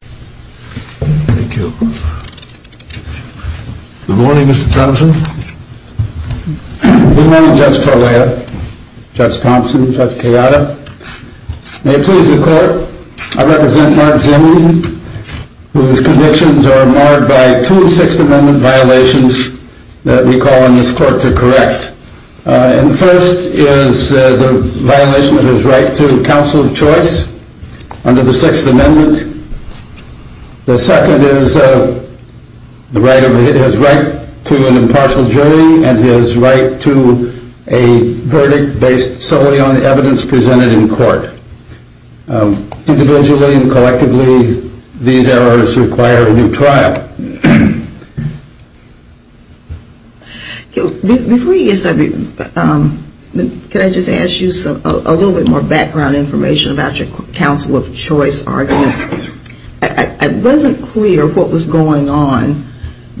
Good morning, Mr. Thompson. Good morning, Judge Torlea, Judge Thompson, Judge Kayada. May it please the Court, I represent Mark Zimny, whose convictions are marred by two Sixth Amendment violations that we call on this Court to correct. And the first is the right to an impartial choice under the Sixth Amendment. The second is the right to an impartial jury and his right to a verdict based solely on the evidence presented in court. Individually and collectively, these errors require a new trial. Before you get started, can I just ask you a little bit more background information about your counsel of choice argument. It wasn't clear what was going on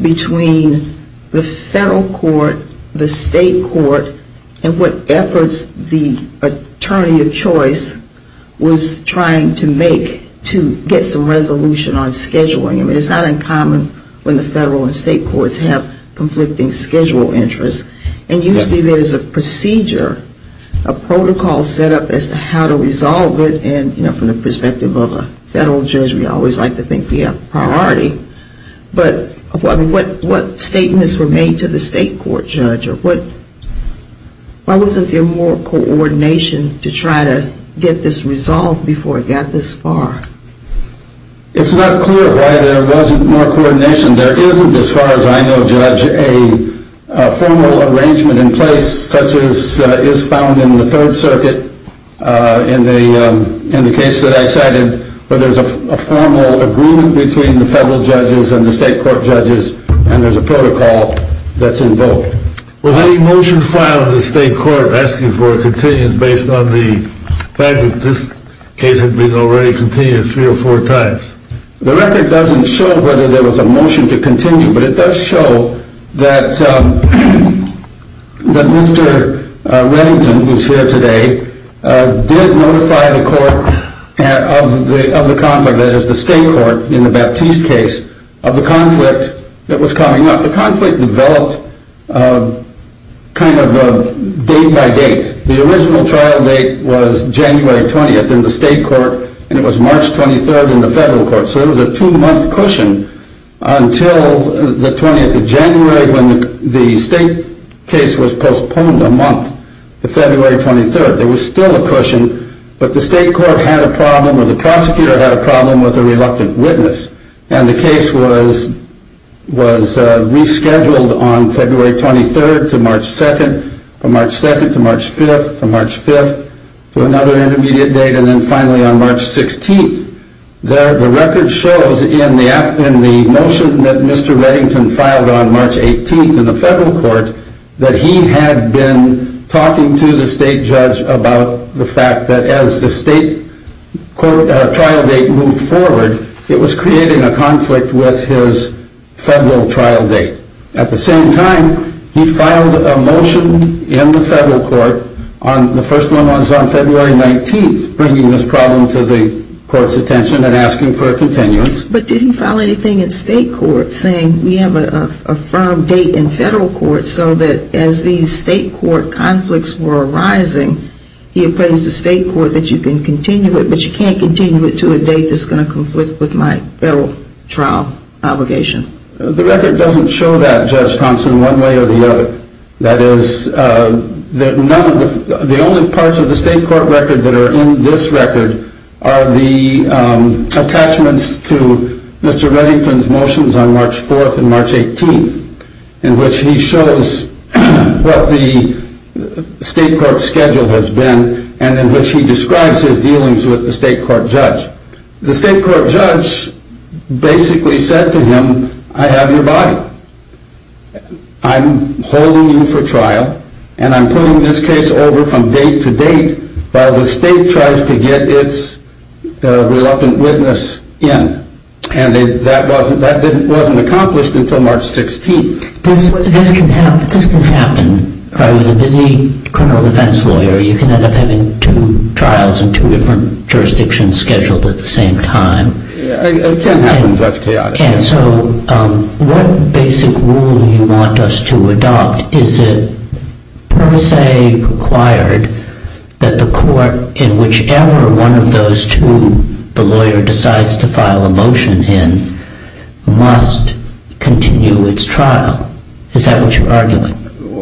between the federal court, the state court, and what efforts the attorney of choice was trying to make to get some resolution on when the federal and state courts have conflicting schedule interests. And usually there is a procedure, a protocol set up as to how to resolve it and from the perspective of a federal judge, we always like to think we have priority. But what statements were made to the state court judge? Why wasn't there more coordination to try to get this resolved before it got this far? It's not clear why there wasn't more coordination. There isn't, as far as I know, Judge, a formal arrangement in place such as is found in the Third Circuit in the case that I cited where there is a formal agreement between the federal judges and the state court judges and there is a protocol that is invoked. Was any motion filed in the state court asking for a continued based on the fact that this case had been already continued three or four times? The record doesn't show whether there was a motion to continue, but it does show that Mr. Reddington, who is here today, did notify the court of the conflict, that is the state court in the Baptiste case, of kind of a day-by-day. The original trial date was January 20th in the state court and it was March 23rd in the federal court. So there was a two-month cushion until the 20th of January when the state case was postponed a month to February 23rd. There was still a cushion, but the state court had a problem or the March 2nd to March 5th to March 5th to another intermediate date and then finally on March 16th. The record shows in the motion that Mr. Reddington filed on March 18th in the federal court that he had been talking to the state judge about the fact that as the state trial date moved forward, it was creating a conflict with his federal trial date. At the same time, he filed a motion in the federal court, the first one was on February 19th, bringing this problem to the court's attention and asking for a continuance. But did he file anything in state court saying we have a firm date in federal court so that as these state court conflicts were arising, he appraised the state court that you can continue it, but you can't continue it to a date that's going to conflict with my federal trial obligation? The record doesn't show that, Judge Thompson, one way or the other. That is, the only parts of the state court record that are in this record are the attachments to Mr. Reddington's motions on March 4th and March 18th, in which he shows what the state court schedule has been and in which he describes his dealings with the state court judge. The state court judge basically said to him, I have your body. I'm holding you for trial and I'm putting this case over from date to date while the state tries to get its reluctant witness in. And that wasn't accomplished until March 16th. This can happen with a busy criminal defense lawyer. You can end up having two trials in two different jurisdictions scheduled at the same time. It can happen. That's chaotic. And so what basic rule do you want us to adopt? Is it per se required that the court in whichever one of those two the lawyer decides to file a motion in must continue its trial? Is that what you're arguing?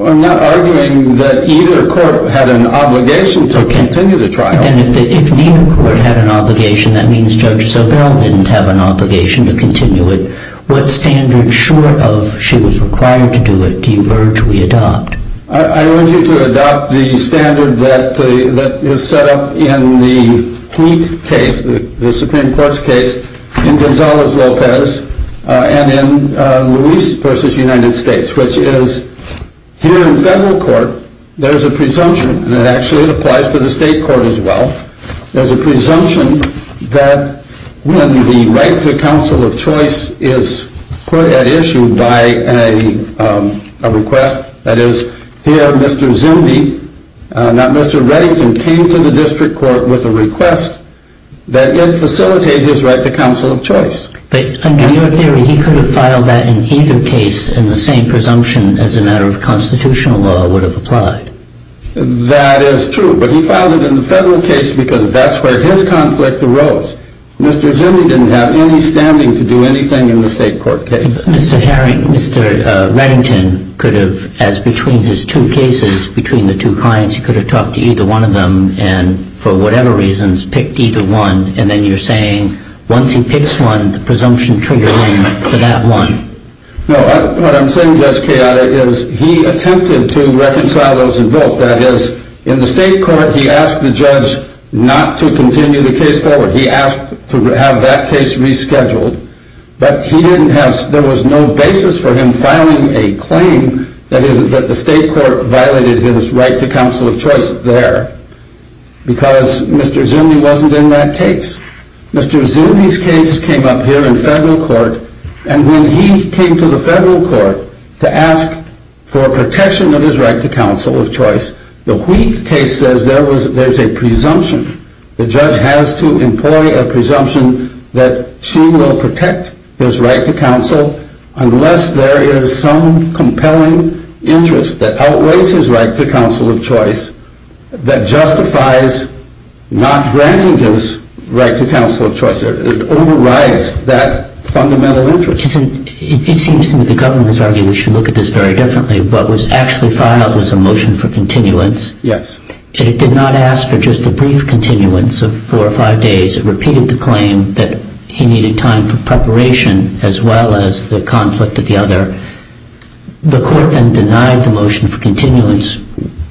I'm not arguing that either court had an obligation to continue the trial. Then if neither court had an obligation, that means Judge Sobel didn't have an obligation to continue it. What standard, short of she was required to do it, do you urge we adopt? I urge you to adopt the standard that is set up in the Pete case, the Supreme Court's case, in Gonzalez-Lopez and in Luis v. United States, which is here in federal court, there is a presumption that actually applies to the state court as well. There's a presumption that when the right to counsel of choice is put at issue by a request, that is, here Mr. Zimby, not Mr. Reddington, came to the district court with a request that it facilitate his right to counsel of choice. But in your theory, he could have filed that in either case and the same presumption as a matter of constitutional law would have applied. That is true, but he filed it in the federal case because that's where his conflict arose. Mr. Zimby didn't have any standing to do anything in the state court case. Mr. Herring, Mr. Reddington could have, as between his two cases, between the two clients, he could have talked to either one of them and, for whatever reasons, picked either one. And then you're saying once he picks one, the presumption triggers him for that one. No, what I'm saying, Judge Keada, is he attempted to reconcile those in both. That is, in the state court, he asked the judge not to continue the case forward. He asked to have that case rescheduled. But he didn't have, there was no basis for him filing a claim that the state court violated his right to counsel of choice there because Mr. Zimby wasn't in that case. Mr. Zimby's case came up here in federal court. And when he came to the federal court to ask for protection of his right to counsel of choice, the Wheat case says there's a presumption. The judge has to employ a presumption that she will protect his right to counsel unless there is some compelling interest that outweighs his right to counsel of choice that justifies not granting his right to counsel of choice. It overrides that fundamental interest. It seems to me the government has argued we should look at this very differently. What was actually filed was a motion for continuance. Yes. And it did not ask for just a brief continuance of four or five days. It repeated the claim that he needed time for preparation as well as the conflict of the other. The court then denied the motion for continuance.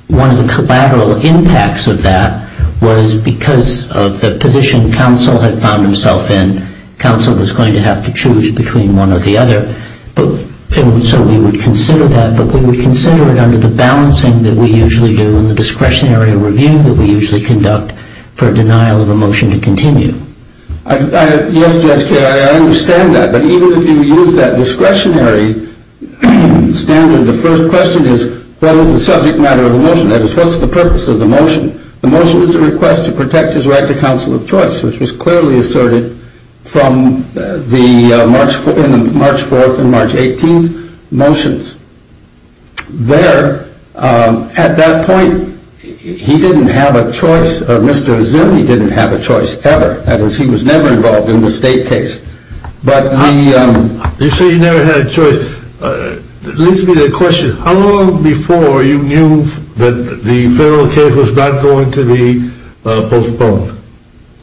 One of the collateral impacts of that was because of the position counsel had found himself in. Counsel was going to have to choose between one or the other. So we would consider that, but we would consider it under the balancing that we usually do and the discretionary review that we usually conduct for denial of a motion to continue. Yes, Judge Carey, I understand that. But even if you use that discretionary standard, the first question is what is the subject matter of the motion? That is, what's the purpose of the motion? The motion is a request to protect his right to counsel of choice, which was clearly asserted from the March 4th and March 18th motions. There, at that point, he didn't have a choice. Mr. Azimi didn't have a choice ever. That is, he was never involved in the state case. You say he never had a choice. It leads me to a question. How long before you knew that the federal case was not going to be postponed?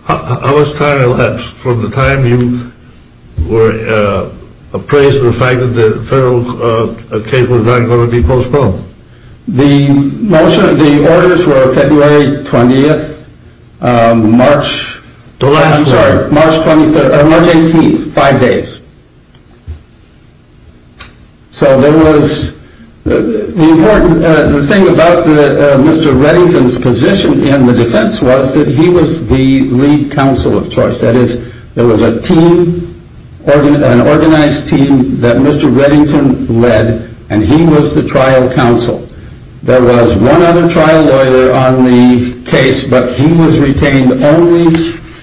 How much time elapsed from the time you were appraised of the fact that the federal case was not going to be postponed? The orders were February 20th, March 18th, five days. So the important thing about Mr. Reddington's position in the defense was that he was the lead counsel of choice. That is, there was an organized team that Mr. Reddington led, and he was the trial counsel. There was one other trial lawyer on the case, but he was retained only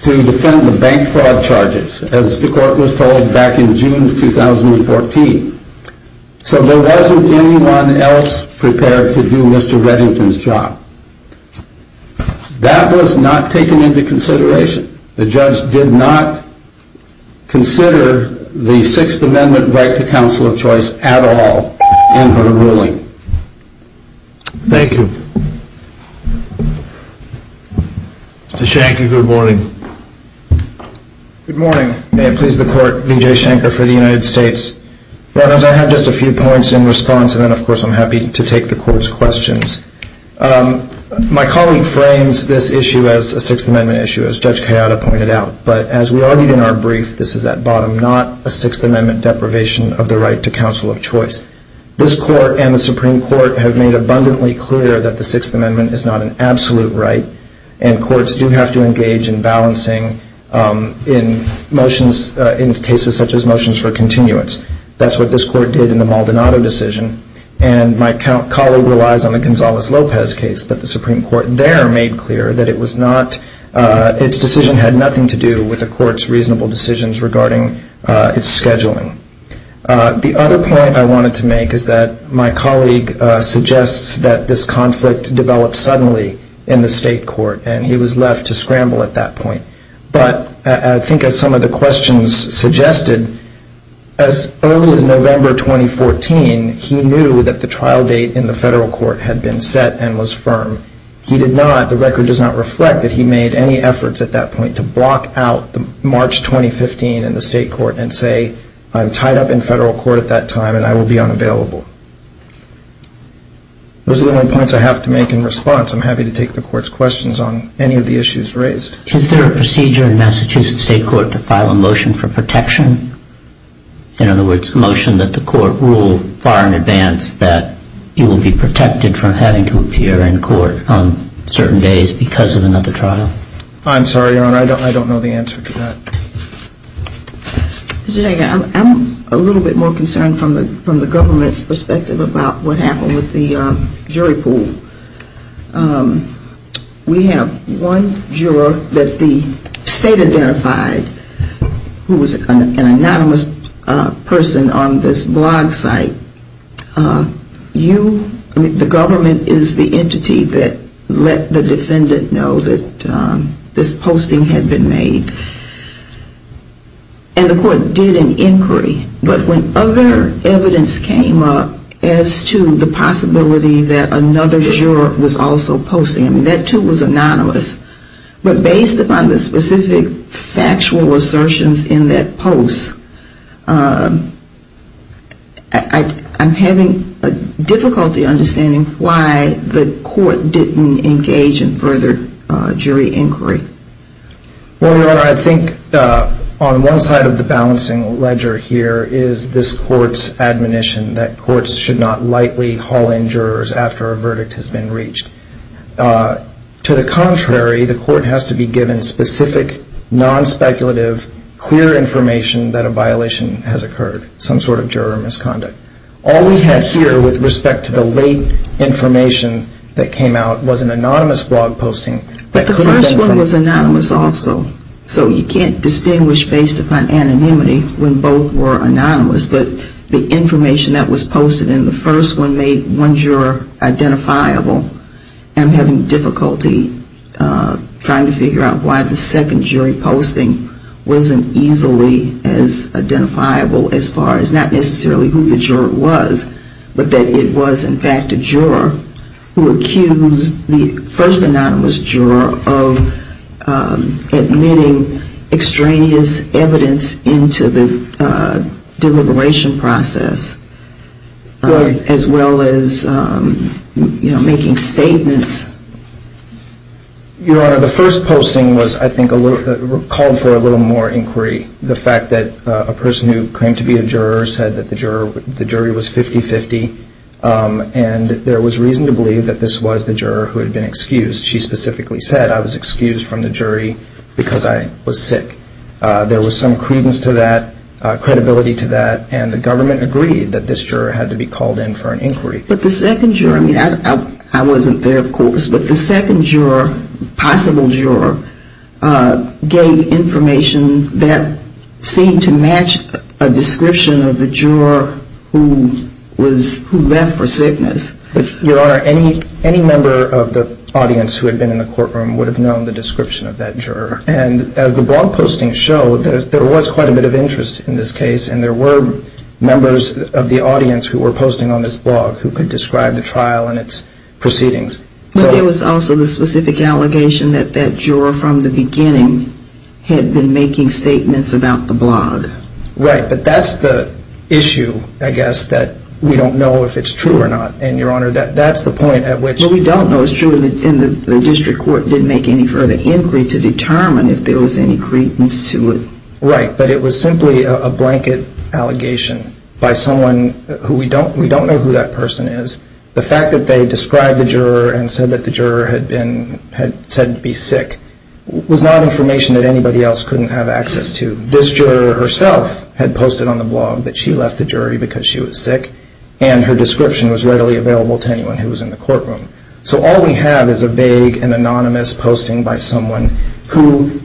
to defend the bank fraud charges. As the court was told, back in June 2014. So there wasn't anyone else prepared to do Mr. Reddington's job. That was not taken into consideration. The judge did not consider the Sixth Amendment right to counsel of choice at all in her ruling. Thank you. Mr. Shanky, good morning. Good morning. May it please the court, V.J. Shanker for the United States. I have just a few points in response, and then of course I'm happy to take the court's questions. My colleague frames this issue as a Sixth Amendment issue, as Judge Kayada pointed out. But as we argued in our brief, this is at bottom, not a Sixth Amendment deprivation of the right to counsel of choice. This court and the Supreme Court have made abundantly clear that the Sixth Amendment is not an absolute right, and courts do have to engage in balancing in motions, in cases such as motions for continuance. That's what this court did in the Maldonado decision. And my colleague relies on the Gonzales-Lopez case that the Supreme Court there made clear that it was not, its decision had nothing to do with the court's reasonable decisions regarding its scheduling. The other point I wanted to make is that my colleague suggests that this conflict developed suddenly in the state court, and he was left to scramble at that point. But I think as some of the questions suggested, as early as November 2014, he knew that the trial date in the federal court had been set and was firm. He did not, the record does not reflect that he made any efforts at that point to block out March 2015 in the state court and say, I'm tied up in federal court at that time and I will be unavailable. Those are the only points I have to make in response. I'm happy to take the court's questions on any of the issues raised. Is there a procedure in Massachusetts state court to file a motion for protection? In other words, a motion that the court rule far in advance that you will be protected from having to appear in court on certain days because of another trial? I'm sorry, Your Honor. I don't know the answer to that. I'm a little bit more concerned from the government's perspective about what happened with the jury pool. We have one juror that the state identified who was an anonymous person on this blog site. You, the government is the entity that let the defendant know that this posting had been made. And the court did an inquiry. But when other evidence came up as to the possibility that another juror was also posting, that too was anonymous. But based upon the specific factual assertions in that post, I'm having difficulty understanding why the court didn't engage in further jury inquiry. Well, Your Honor, I think on one side of the balancing ledger here is this court's admonition that courts should not lightly haul in jurors after a verdict has been reached. To the contrary, the court has to be given specific, non-speculative, clear information that a violation has occurred, some sort of juror misconduct. All we had here with respect to the late information that came out was an anonymous blog posting. But the first one was anonymous also. So you can't distinguish based upon anonymity when both were anonymous. But the information that was posted in the first one made one juror identifiable. I'm having difficulty trying to figure out why the second jury posting wasn't easily as identifiable as far as not necessarily who the juror was, but that it was in fact a juror who accused the first anonymous juror of admitting extraneous evidence into the deliberation process, as well as making statements. Your Honor, the first posting was, I think, called for a little more inquiry. The fact that a person who claimed to be a juror said that the jury was 50-50 and there was reason to believe that this was the juror who had been excused. She specifically said, I was excused from the jury because I was sick. There was some credence to that, credibility to that, and the government agreed that this juror had to be called in for an inquiry. But the second juror, I mean, I wasn't there, of course, but the second juror, possible juror, gave information that seemed to match a description of the juror who left for sickness. Your Honor, any member of the audience who had been in the courtroom would have known the description of that juror. And as the blog postings show, there was quite a bit of interest in this case, and there were members of the audience who were posting on this blog who could describe the trial and its proceedings. But there was also the specific allegation that that juror from the beginning had been making statements about the blog. Right, but that's the issue, I guess, that we don't know if it's true or not. And, Your Honor, that's the point at which... Well, we don't know it's true, and the district court didn't make any further inquiry to determine if there was any credence to it. Right, but it was simply a blanket allegation by someone who we don't know who that person is. The fact that they described the juror and said that the juror had said to be sick was not information that anybody else couldn't have access to. This juror herself had posted on the blog that she left the jury because she was sick, and her description was readily available to anyone who was in the courtroom. So all we have is a vague and anonymous posting by someone who,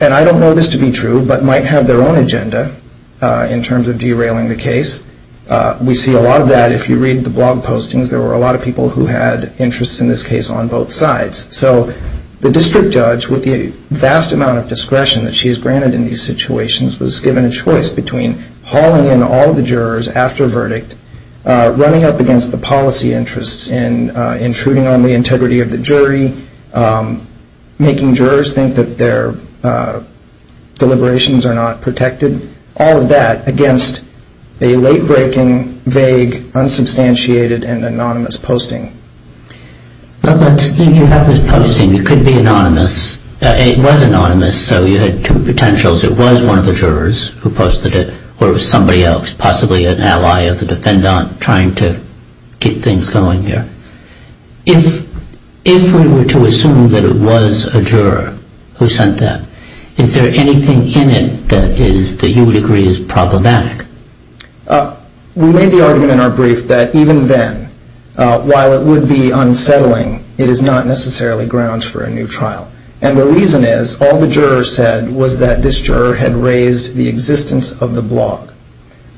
and I don't know this to be true, but might have their own agenda in terms of derailing the case. We see a lot of that if you read the blog postings. There were a lot of people who had interests, in this case, on both sides. So the district judge, with the vast amount of discretion that she is granted in these situations, was given a choice between hauling in all the jurors after verdict, running up against the policy interests in intruding on the integrity of the jury, making jurors think that their deliberations are not protected, all of that against a late-breaking, vague, unsubstantiated, and anonymous posting. But you have this posting. It could be anonymous. It was anonymous, so you had two potentials. It was one of the jurors who posted it, or it was somebody else, possibly an ally of the defendant trying to get things going here. If we were to assume that it was a juror who sent that, is there anything in it that you would agree is problematic? We made the argument in our brief that even then, while it would be unsettling, it is not necessarily grounds for a new trial. And the reason is all the jurors said was that this juror had raised the existence of the blog.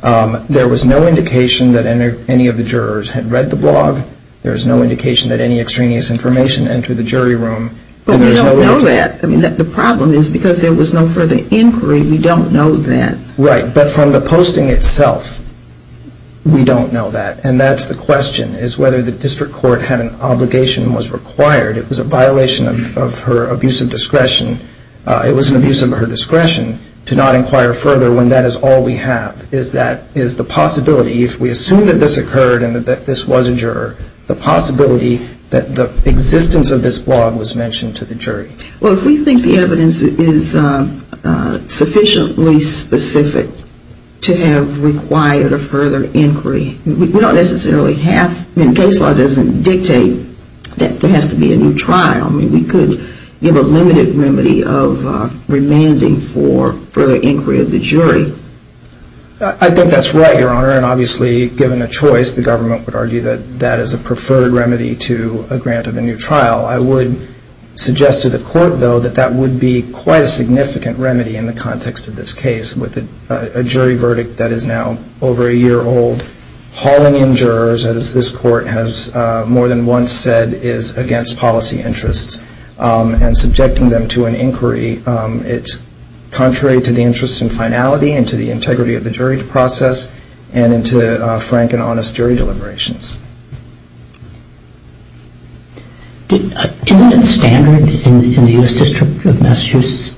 There was no indication that any of the jurors had read the blog. There was no indication that any extraneous information entered the jury room. But we don't know that. I mean, the problem is because there was no further inquiry, we don't know that. Right. But from the posting itself, we don't know that. And that's the question, is whether the district court had an obligation and was required. It was a violation of her abuse of discretion. It was an abuse of her discretion to not inquire further when that is all we have, is the possibility, if we assume that this occurred and that this was a juror, the possibility that the existence of this blog was mentioned to the jury. Well, if we think the evidence is sufficiently specific to have required a further inquiry, we don't necessarily have, I mean, case law doesn't dictate that there has to be a new trial. I mean, we could give a limited remedy of remanding for further inquiry of the jury. I think that's right, Your Honor. Given a choice, the government would argue that that is a preferred remedy to a grant of a new trial. I would suggest to the court, though, that that would be quite a significant remedy in the context of this case, with a jury verdict that is now over a year old. Hauling in jurors, as this court has more than once said, is against policy interests. And subjecting them to an inquiry, it's contrary to the interest in finality and to the integrity of the jury process and into frank and honest jury deliberations. Isn't it standard in the U.S. District of Massachusetts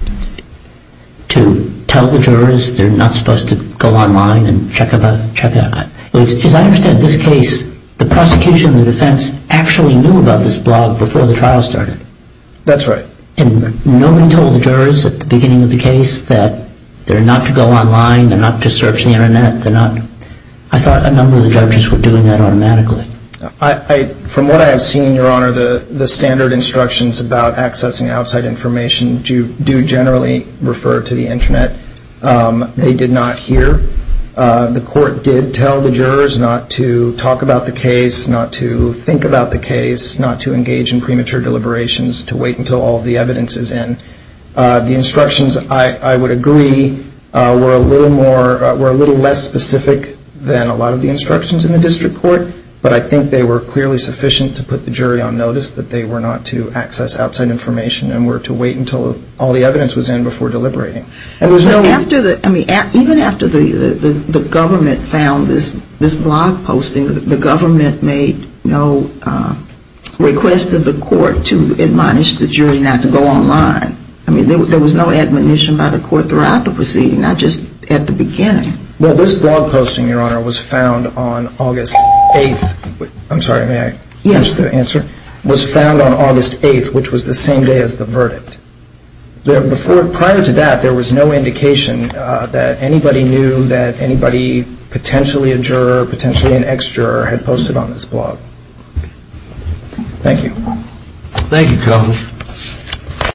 to tell the jurors they're not supposed to go online and check about it? As I understand this case, the prosecution and the defense actually knew about this blog before the trial started. That's right. And nobody told the jurors at the beginning of the case that they're not to go online, they're not to search the Internet. They're not. I thought a number of the judges were doing that automatically. From what I have seen, Your Honor, the standard instructions about accessing outside information do generally refer to the Internet. They did not here. The court did tell the jurors not to talk about the case, not to think about the case, not to engage in premature deliberations, to wait until all the evidence is in. The instructions, I would agree, were a little less specific than a lot of the instructions in the district court, but I think they were clearly sufficient to put the jury on notice that they were not to access outside information and were to wait until all the evidence was in before deliberating. Even after the government found this blog posting, the government made no request of the court to admonish the jury not to go online. I mean, there was no admonition by the court throughout the proceeding, not just at the beginning. Well, this blog posting, Your Honor, was found on August 8th. I'm sorry, may I finish the answer? Yes. It was found on August 8th, which was the same day as the verdict. Prior to that, there was no indication that anybody knew that anybody, potentially a juror, potentially an ex-juror, had posted on this blog. Thank you. Thank you, Cohen.